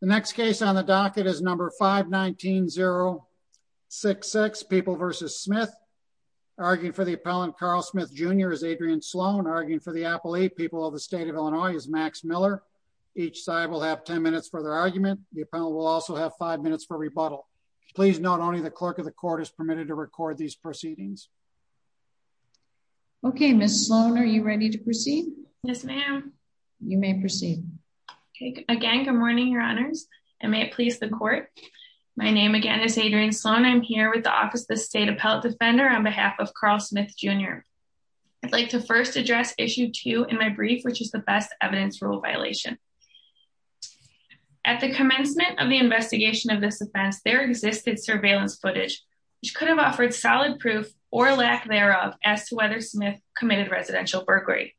The next case on the docket is number 519-066, People v. Smith. Arguing for the appellant, Carl Smith Jr., is Adrienne Sloan. Arguing for the appellate, People of the State of Illinois, is Max Miller. Each side will have 10 minutes for their argument. The appellant will also have 5 minutes for rebuttal. Please note only the clerk of the court is permitted to record these proceedings. Okay, Ms. Sloan, are you ready to proceed? Yes, ma'am. You may proceed. Okay, again, good morning, your honors, and may it please the court. My name again is Adrienne Sloan. I'm here with the Office of the State Appellate Defender on behalf of Carl Smith Jr. I'd like to first address issue 2 in my brief, which is the best evidence rule violation. At the commencement of the investigation of this offense, there existed surveillance footage, which could have offered solid proof or lack thereof as to whether Smith committed residential burglary.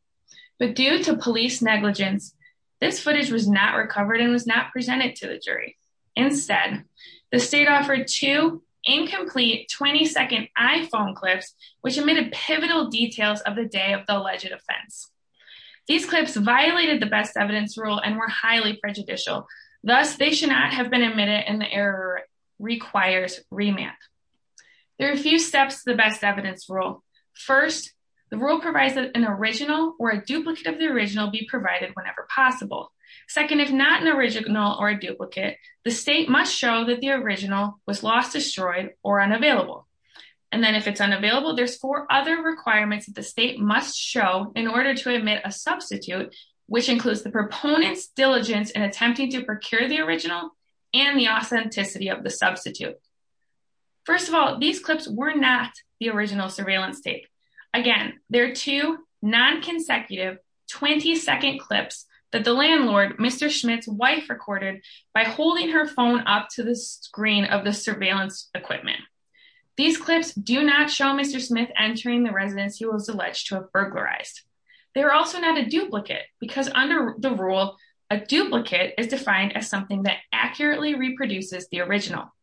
But due to police negligence, this footage was not recovered and was not presented to the jury. Instead, the state offered two incomplete 20-second iPhone clips, which admitted pivotal details of the day of the alleged offense. These clips violated the best evidence rule and were highly prejudicial. Thus, they should not have been admitted, and the error requires remand. There are a few steps to the best evidence rule. First, the rule provides that an original or a duplicate of the original be provided whenever possible. Second, if not an original or a duplicate, the state must show that the original was lost, destroyed, or unavailable. And then if it's unavailable, there's four other requirements that the state must show in order to admit a substitute, which includes the proponent's diligence in attempting to procure the original and the authenticity of the substitute. First of all, these clips were not the original surveillance tape. Again, they're two non-consecutive 20-second clips that the landlord, Mr. Smith's wife, recorded by holding her phone up to the screen of the surveillance equipment. These clips do not show Mr. Smith entering the residence he was alleged to have burglarized. They are also not a duplicate because under the rule, a duplicate is defined as something that accurately reproduces the original.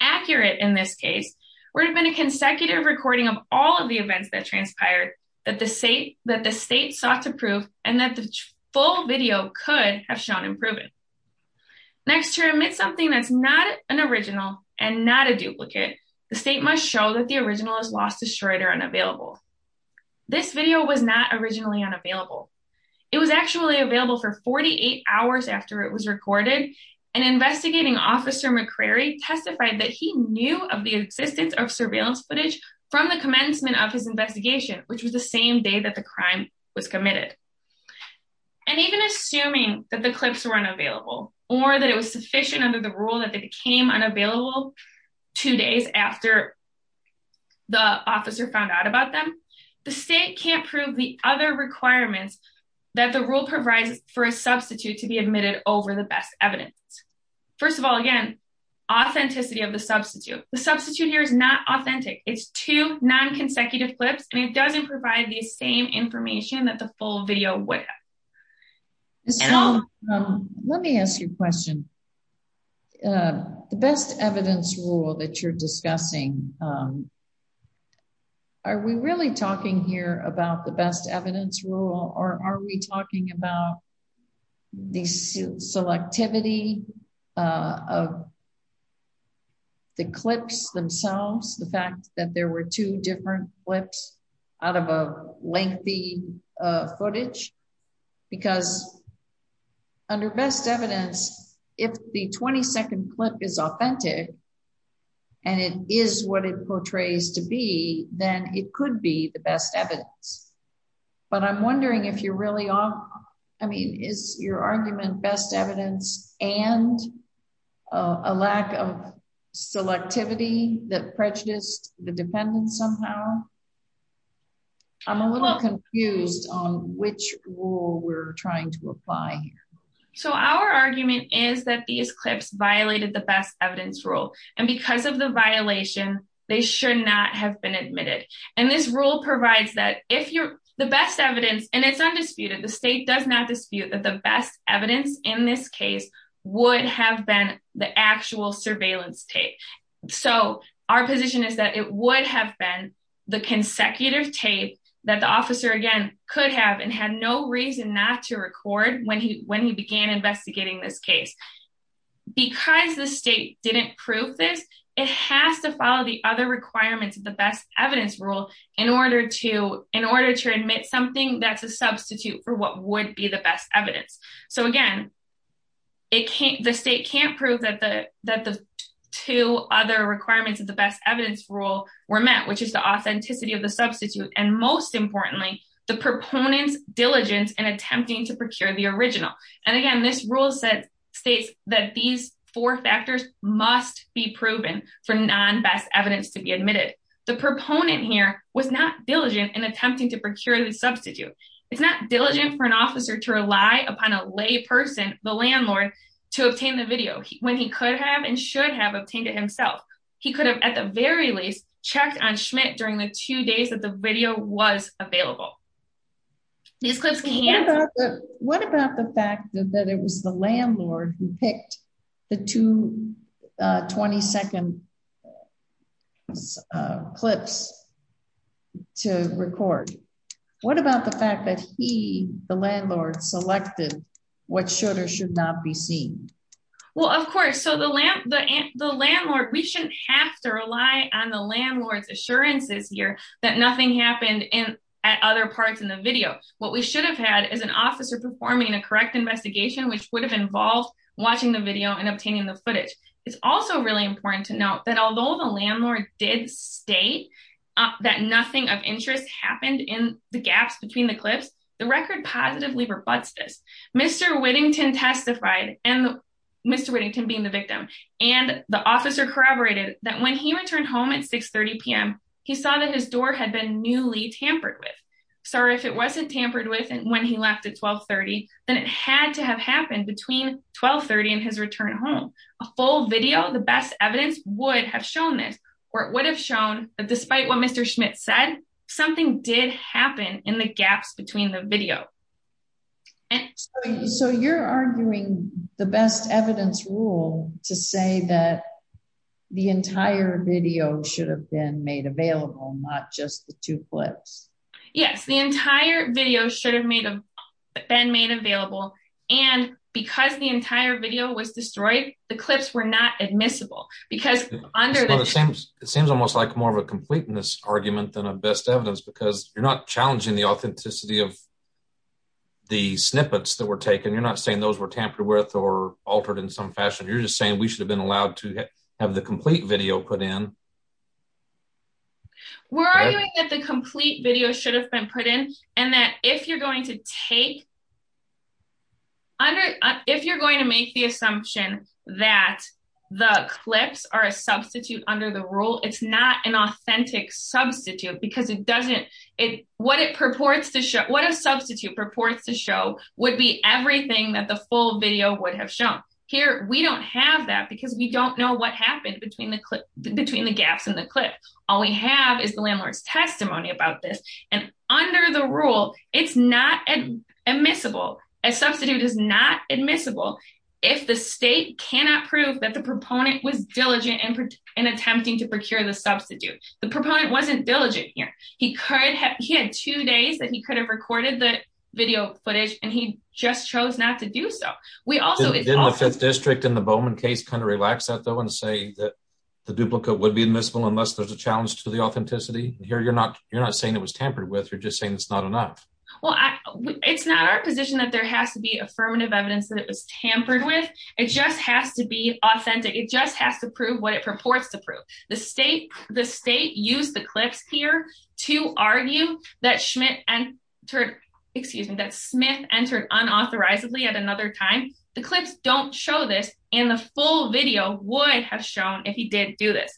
Accurate, in this case, would have been a consecutive recording of all of the events that transpired that the state sought to prove and that the full video could have shown and proven. Next, to admit something that's not an original and not a duplicate, the state must show that the original is lost, destroyed, or unavailable. This video was not originally unavailable. It was actually available for 48 hours after it was recorded, and investigating officer McCrary testified that he knew of the existence of surveillance footage from the commencement of his investigation, which was the same day that the crime was committed. And even assuming that the clips were unavailable or that it was sufficient under the rule that they became unavailable two days after the officer found out about them, the state can't prove the other requirements that the rule provides for a substitute to be admitted over the best evidence. First of all, again, authenticity of the substitute. The substitute here is not authentic. It's two non-consecutive clips, and it doesn't provide the same information that the full video would have. Ms. Tom, let me ask you a question. The best evidence rule that you're discussing, are we really talking here about the best evidence rule, or are we talking about the selectivity of the clips themselves, the fact that there were two different clips out of a lengthy footage? Because under best evidence, if the 20-second clip is authentic, and it is what it portrays to be, then it could be the best evidence. But I'm wondering if you're really off... I mean, is your argument best evidence and a lack of selectivity that prejudiced the defendant somehow? I'm a little confused on which rule we're trying to apply here. So our argument is that these clips violated the best evidence rule, and because of the violation, they should not have been admitted. And this rule provides that if you're... the best evidence, and it's undisputed, the state does not dispute that the best evidence in this case would have been the actual surveillance tape. So our position is that it would have been the consecutive tape that the officer, again, could have and had no reason not to record when he began investigating this case. Because the state didn't prove this, it has to follow the other requirements of the best evidence rule in order to admit something that's a substitute for what would be the best evidence. So again, the state can't prove that the two other requirements of the best evidence rule were met, which is the authenticity of the substitute, and most importantly, the proponent's diligence in attempting to procure the original. And again, this rule states that these four factors must be proven for non-best evidence to be admitted. The proponent here was not diligent in attempting to procure the substitute. It's not diligent for an officer to rely upon a lay person, the landlord, to obtain the video, when he could have and should have obtained it himself. He could have, at the very least, checked on Schmidt during the two days that the video was available. These clips can't... What about the fact that he, the landlord, selected what should or should not be seen? Well, of course. So the landlord, we shouldn't have to rely on the landlord's assurances here that nothing happened at other parts in the video. What we should have had is an officer performing a correct investigation, which would have involved watching the video and obtaining the footage. It's also really important to note that although the landlord did state that nothing of interest happened in the gaps between the clips, the record positively rebutts this. Mr. Whittington testified, Mr. Whittington being the victim, and the officer corroborated that when he returned home at 6.30 p.m., he saw that his door had been newly tampered with. So if it wasn't tampered with when he left at 12.30, then it had to have happened between 12.30 and his return home. A full video, the best evidence would have shown this, or it would have shown that despite what Mr. Schmidt said, something did happen in the gaps between the video. So you're arguing the best evidence rule to say that the entire video should have been made available, not just the two clips? Yes, the entire video should have been made available, and because the entire video was destroyed, the clips were not admissible. It seems almost like more of a completeness argument than a best evidence, because you're not challenging the authenticity of the snippets that were taken. You're not saying those were tampered with or altered in some fashion. You're just saying we should have been allowed to have the complete video put in. We're arguing that the complete video should have been put in, and that if you're going to make the assumption that the clips are a substitute under the rule, it's not an authentic substitute because what a substitute purports to show would be everything that the full video would have shown. Here, we don't have that because we don't know what happened between the gaps in the clip. All we have is the landlord's testimony about this, and under the rule, it's not admissible. A substitute is not admissible if the state cannot prove that the proponent was diligent in attempting to procure the substitute. The proponent wasn't diligent here. He had two days that he could have recorded the video footage, and he just chose not to do so. Didn't the 5th District in the Bowman case kind of relax that, though, and say that the duplicate would be admissible unless there's a challenge to the authenticity? Here, you're not saying it was tampered with. You're just saying it's not enough. Well, it's not our position that there has to be affirmative evidence that it was tampered with. It just has to be authentic. It just has to prove what it purports to prove. The state used the clips here to argue that Smith entered unauthorizedly at another time. The clips don't show this, and the full video would have shown if he did do this.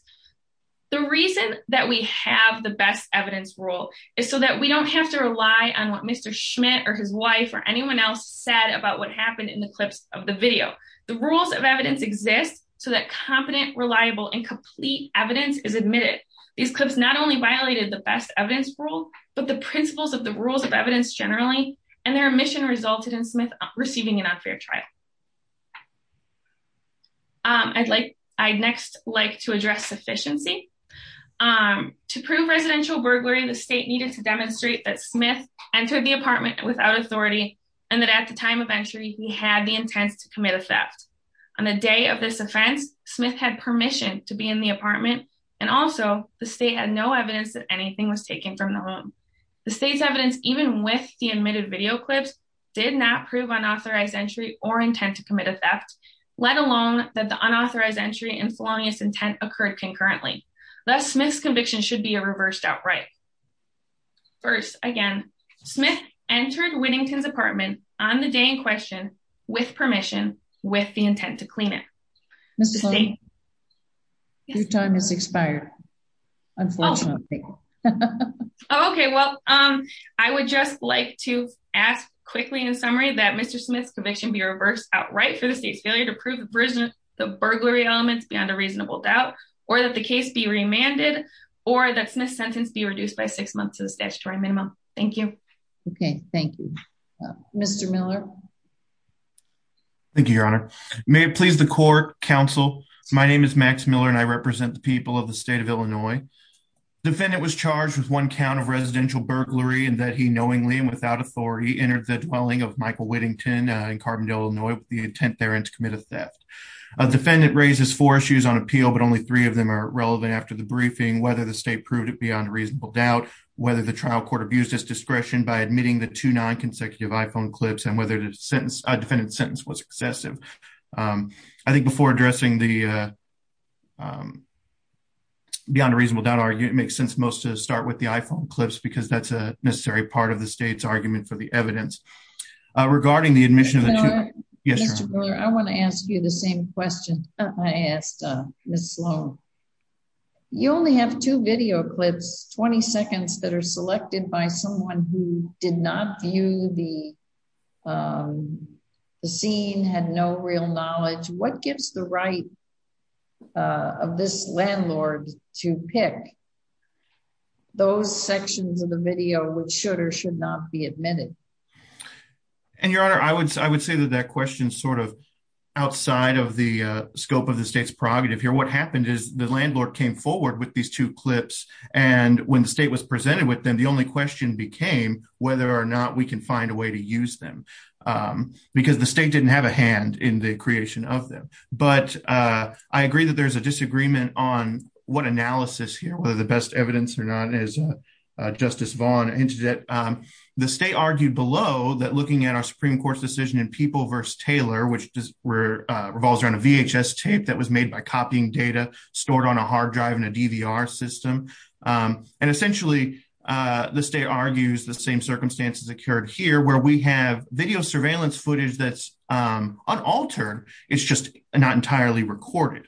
The reason that we have the best evidence rule is so that we don't have to rely on what Mr. Schmidt or his wife or anyone else said about what happened in the clips of the video. The rules of evidence exist so that competent, reliable, and complete evidence is admitted. These clips not only violated the best evidence rule, but the principles of the rules of evidence generally, and their omission resulted in Smith receiving an unfair trial. I'd next like to address sufficiency. To prove residential burglary, the state needed to demonstrate that Smith entered the apartment without authority and that at the time of entry, he had the intent to commit a theft. On the day of this offense, Smith had permission to be in the apartment, and also the state had no evidence that anything was taken from the home. The state's evidence, even with the admitted video clips, did not prove unauthorized entry or intent to commit a theft, let alone that the unauthorized entry and sloppiness intent occurred concurrently. Thus, Smith's conviction should be reversed outright. First, again, Smith entered Whittington's apartment on the day in question with permission with the intent to clean it. Your time has expired, unfortunately. Okay, well, um, I would just like to ask quickly in summary that Mr. Smith's conviction be reversed outright for the state's failure to prove the burglary elements beyond a reasonable doubt, or that the case be remanded, or that Smith's sentence be reduced by six months to the statutory minimum. Thank you. Okay, thank you. Mr. Miller. Thank you, Your Honor. May it please the court, counsel. My name is Max Miller, and I represent the people of the state of Illinois. The defendant was charged with one count of residential burglary, in that he knowingly and without authority entered the dwelling of Michael Whittington in Carbondale, Illinois with the intent therein to commit a theft. The defendant raises four issues on appeal, but only three of them are relevant after the briefing, whether the state proved it beyond a reasonable doubt, whether the trial court abused its discretion by admitting the two non-consecutive iPhone clips, and whether the defendant's sentence was excessive. I think before addressing the beyond a reasonable doubt argument, it makes sense most to start with the iPhone clips, because that's a necessary part of the state's argument for the evidence. Regarding the admission of the two... Mr. Miller, I want to ask you the same question I asked Ms. Sloan. You only have two video clips, 20 seconds, that are selected by someone who did not view the scene, had no real knowledge. What gives the right of this landlord to pick those sections of the video which should or should not be admitted? And, Your Honor, I would say that that question is sort of outside of the scope of the state's prerogative here. What happened is the landlord came forward with these two clips, and when the state was presented with them, the only question became whether or not we can find a way to use them, because the state didn't have a hand in the creation of them. But I agree that there's a disagreement on what analysis here, whether the best evidence or not, as Justice Vaughn hinted at. The state argued below that looking at our Supreme Court's decision in People v. Taylor, which revolves around a VHS tape that was made by copying data stored on a hard drive in a DVR system. And essentially, the state argues the same circumstances occurred here, where we have video surveillance footage that's unaltered. It's just not entirely recorded.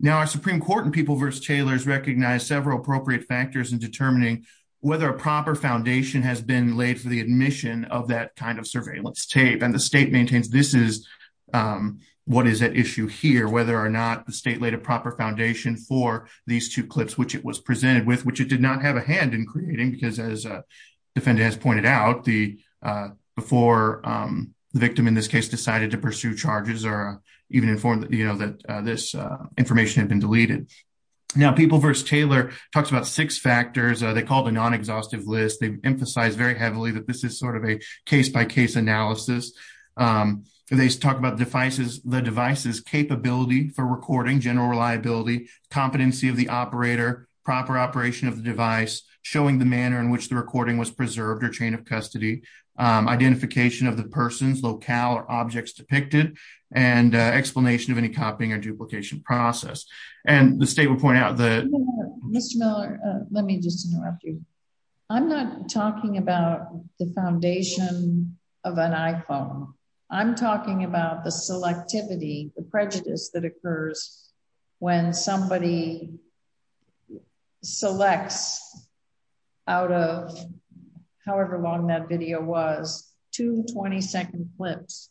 Now, our Supreme Court in People v. Taylor has recognized several appropriate factors in determining whether a proper foundation has been laid for the admission of that kind of surveillance tape. And the state maintains this is what is at issue here, whether or not the state laid a proper foundation for these two clips which it was presented with, which it did not have a hand in creating, because as the defendant has pointed out, before the victim in this case decided to pursue charges or even informed that this information had been deleted. Now, People v. Taylor talks about six factors. They called a non-exhaustive list. They emphasize very heavily that this is sort of a case-by-case analysis. They talk about the device's capability for recording, general reliability, competency of the operator, proper operation of the device, showing the manner in which the recording was preserved or chain of custody, identification of the person's locale or objects depicted, and explanation of any copying or duplication process. And the state would point out that… Mr. Miller, let me just interrupt you. I'm not talking about the foundation of an iPhone. I'm talking about the selectivity, the prejudice that occurs when somebody selects out of however long that video was, two 20-second clips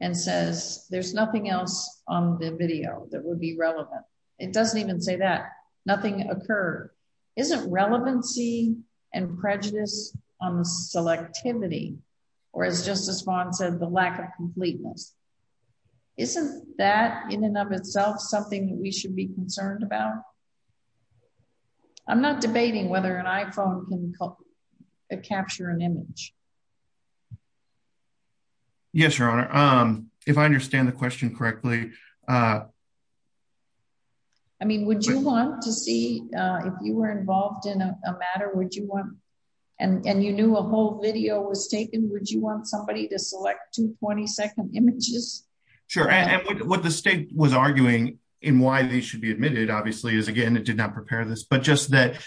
and says there's nothing else on the video that would be relevant. It doesn't even say that. Nothing occurred. Isn't relevancy and prejudice on the selectivity, or as Justice Vaughn said, the lack of completeness, isn't that in and of itself something that we should be concerned about? I'm not debating whether an iPhone can capture an image. Yes, Your Honor. If I understand the question correctly… I mean, would you want to see, if you were involved in a matter, would you want, and you knew a whole video was taken, would you want somebody to select two 20-second images? Sure. And what the state was arguing in why they should be admitted, obviously, is, again, it did not prepare this, but just that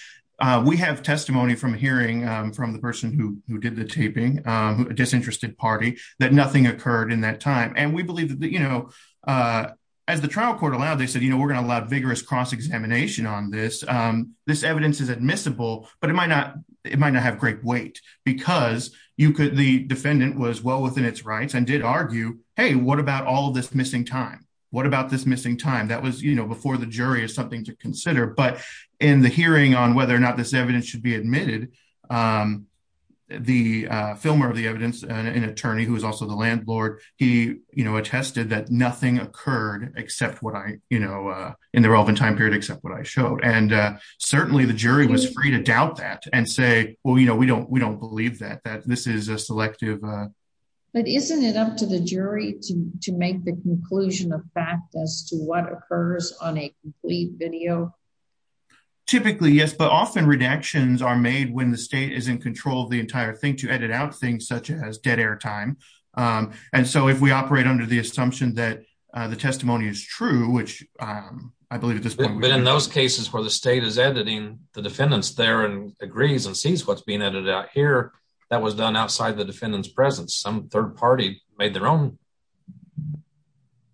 we have testimony from hearing from the person who did the taping, a disinterested party, that nothing occurred in that time. And we believe that, you know, as the trial court allowed, they said, you know, we're going to allow vigorous cross-examination on this. This evidence is admissible, but it might not have great weight because the defendant was well within its rights and did argue, hey, what about all this missing time? What about this missing time? That was, you know, before the jury is something to consider. But in the hearing on whether or not this evidence should be admitted, the filmer of the evidence, an attorney who was also the landlord, he, you know, attested that nothing occurred except what I, you know, in the relevant time period, except what I showed. And certainly the jury was free to doubt that and say, well, you know, we don't believe that, that this is a selective… Typically, yes, but often redactions are made when the state is in control of the entire thing to edit out things such as dead air time. And so if we operate under the assumption that the testimony is true, which I believe at this point… But in those cases where the state is editing the defendants there and agrees and sees what's being edited out here, that was done outside the defendant's presence. Some third party made their own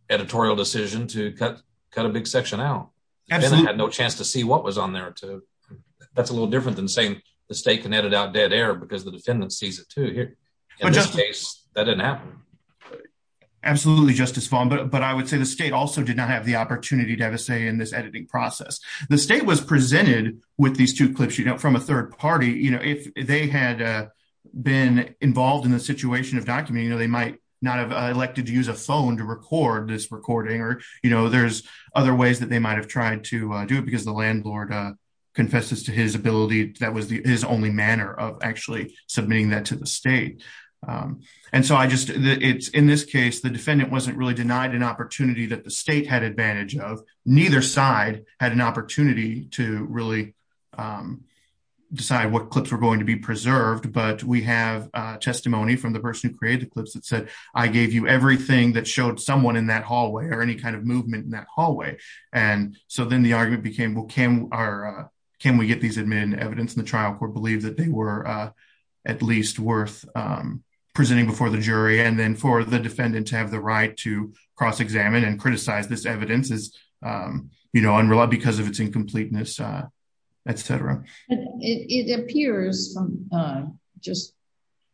editorial decision to cut a big section out. The defendant had no chance to see what was on there, too. That's a little different than saying the state can edit out dead air because the defendant sees it, too. In this case, that didn't happen. Absolutely, Justice Vaughn, but I would say the state also did not have the opportunity to have a say in this editing process. The state was presented with these two clips, you know, from a third party. You know, if they had been involved in the situation of documenting, you know, they might not have elected to use a phone to record this recording or, you know, there's other ways that they might have tried to do it because the landlord confesses to his ability. That was his only manner of actually submitting that to the state. And so I just it's in this case, the defendant wasn't really denied an opportunity that the state had advantage of. Neither side had an opportunity to really decide what clips were going to be preserved. But we have testimony from the person who created the clips that said, I gave you everything that showed someone in that hallway or any kind of movement in that hallway. And so then the argument became, well, can our can we get these admin evidence in the trial court, believe that they were at least worth presenting before the jury and then for the defendant to have the right to cross examine and criticize this evidence is, you know, unreliable because of its incompleteness, et cetera. It appears just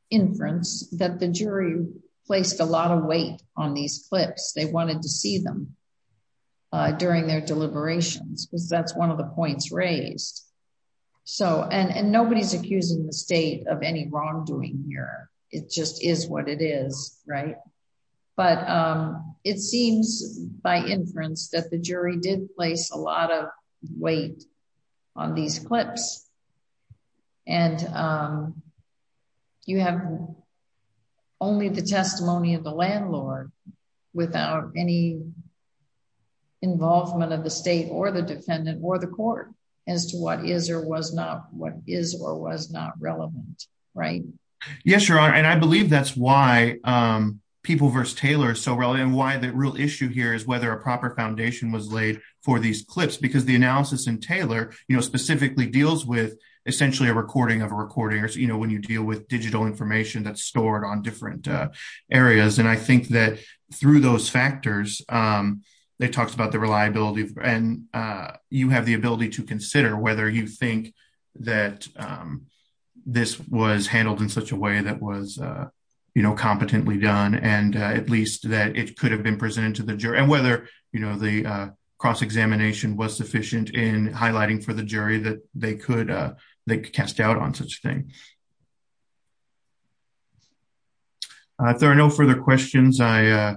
inference that the jury placed a lot of weight on these clips. They wanted to see them during their deliberations because that's one of the points raised. So and nobody's accusing the state of any wrongdoing here. It just is what it is. Right. But it seems by inference that the jury did place a lot of weight on these clips. And you have only the testimony of the landlord without any involvement of the state or the defendant or the court as to what is or was not what is or was not relevant. Right. Yes, Your Honor. And I believe that's why people versus Taylor is so relevant and why the real issue here is whether a proper foundation was laid for these clips because the analysis and Taylor, you know, specifically deals with essentially a recording of a recording or when you deal with digital information that's stored on different areas. And I think that through those factors, they talked about the reliability and you have the ability to consider whether you think that this was handled in such a way that was, you know, competently done and at least that it could have been presented to the jury. And whether, you know, the cross examination was sufficient in highlighting for the jury that they could they cast doubt on such thing. If there are no further questions, I,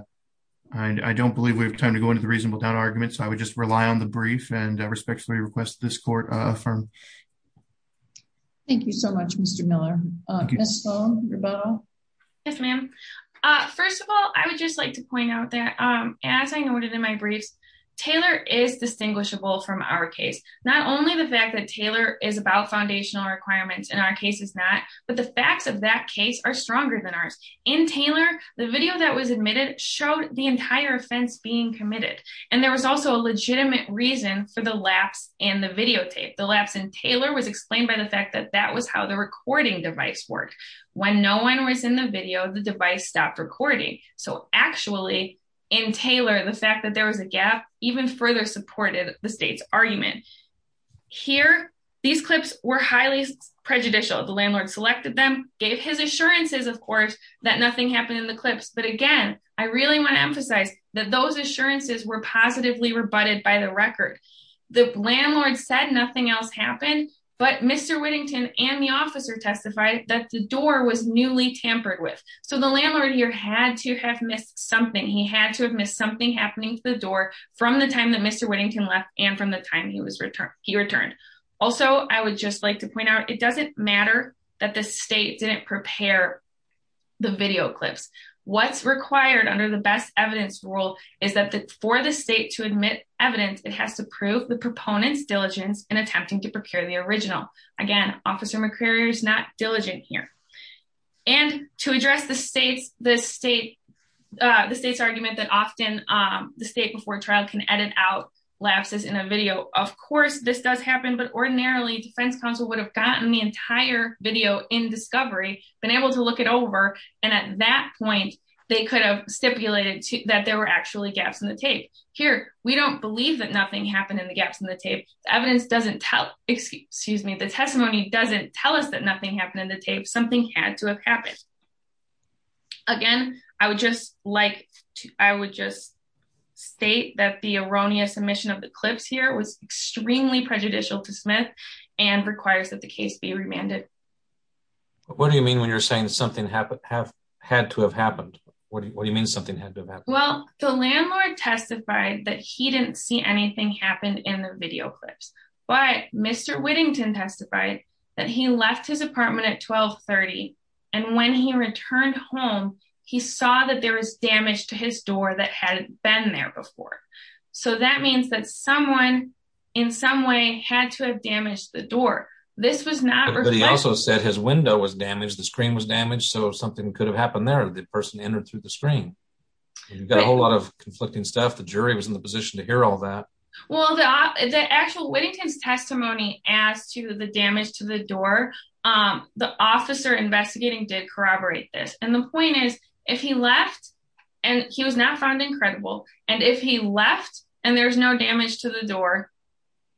I don't believe we have time to go into the reasonable doubt argument. So I would just rely on the brief and respectfully request this court from. Thank you so much, Mr. Miller. Yes, ma'am. First of all, I would just like to point out that, as I noted in my briefs, Taylor is distinguishable from our case, not only the fact that Taylor is about foundational requirements in our case is not, but the facts of that case are stronger than ours In Taylor, the video that was admitted showed the entire offense being committed. And there was also a legitimate reason for the lapse in the videotape. The lapse in Taylor was explained by the fact that that was how the recording device worked. When no one was in the video, the device stopped recording. So actually, in Taylor, the fact that there was a gap even further supported the state's argument. Here, these clips were highly prejudicial. The landlord selected them, gave his assurances, of course, that nothing happened in the clips. But again, I really want to emphasize that those assurances were positively rebutted by the record. The landlord said nothing else happened, but Mr. Whittington and the officer testified that the door was newly tampered with. So the landlord here had to have missed something. He had to have missed something happening to the door from the time that Mr. Whittington left and from the time he returned. Also, I would just like to point out, it doesn't matter that the state didn't prepare the video clips. What's required under the best evidence rule is that for the state to admit evidence, it has to prove the proponent's diligence in attempting to prepare the original. Again, Officer McCreary is not diligent here. And to address the state's argument that often the state before trial can edit out lapses in a video, of course, this does happen. But ordinarily, defense counsel would have gotten the entire video in discovery, been able to look it over, and at that point, they could have stipulated that there were actually gaps in the tape. Here, we don't believe that nothing happened in the gaps in the tape. The testimony doesn't tell us that nothing happened in the tape. Something had to have happened. Again, I would just state that the erroneous omission of the clips here was extremely prejudicial to Smith and requires that the case be remanded. What do you mean when you're saying something had to have happened? What do you mean something had to have happened? Well, the landlord testified that he didn't see anything happen in the video clips. But Mr. Whittington testified that he left his apartment at 1230 and when he returned home, he saw that there was damage to his door that hadn't been there before. So that means that someone, in some way, had to have damaged the door. But he also said his window was damaged, the screen was damaged, so something could have happened there if the person entered through the screen. You've got a whole lot of conflicting stuff. The jury was in the position to hear all that. Well, the actual Whittington's testimony as to the damage to the door, the officer investigating did corroborate this. And the point is, if he left, and he was not found incredible, and if he left and there's no damage to the door,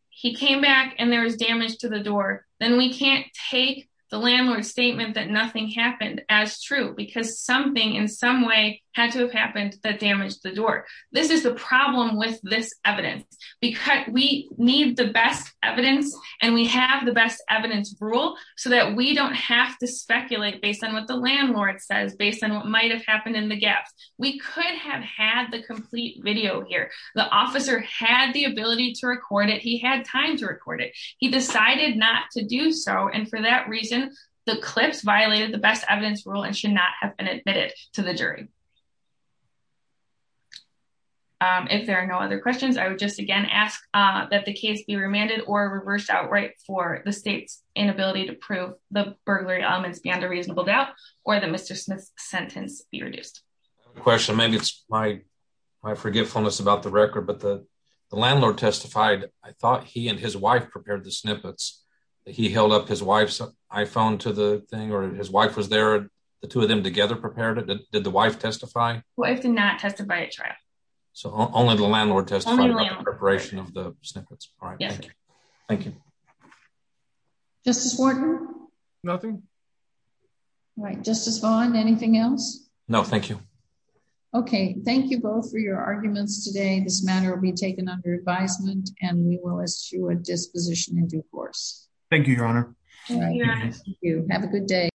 he came back and there was damage to the door, then we can't take the landlord's statement that nothing happened as true because something, in some way, had to have happened that damaged the door. This is the problem with this evidence. We need the best evidence and we have the best evidence rule so that we don't have to speculate based on what the landlord says, based on what might have happened in the gaps. We could have had the complete video here. The officer had the ability to record it, he had time to record it. He decided not to do so and for that reason, the clips violated the best evidence rule and should not have been admitted to the jury. If there are no other questions, I would just again ask that the case be remanded or reversed outright for the state's inability to prove the burglary elements beyond a reasonable doubt, or the Mr. Smith's sentence be reduced. I have a question. Maybe it's my forgiveness about the record, but the landlord testified. I thought he and his wife prepared the snippets. He held up his wife's iPhone to the thing, or his wife was there, the two of them together prepared it. Did the wife testify? The wife did not testify at trial. So only the landlord testified about the preparation of the snippets. Yes. Thank you. Justice Warden? Nothing. All right, Justice Vaughn, anything else? No, thank you. Okay, thank you both for your arguments today. This matter will be taken under advisement and we will issue a disposition in due course. Thank you, Your Honor. Thank you. Have a good day.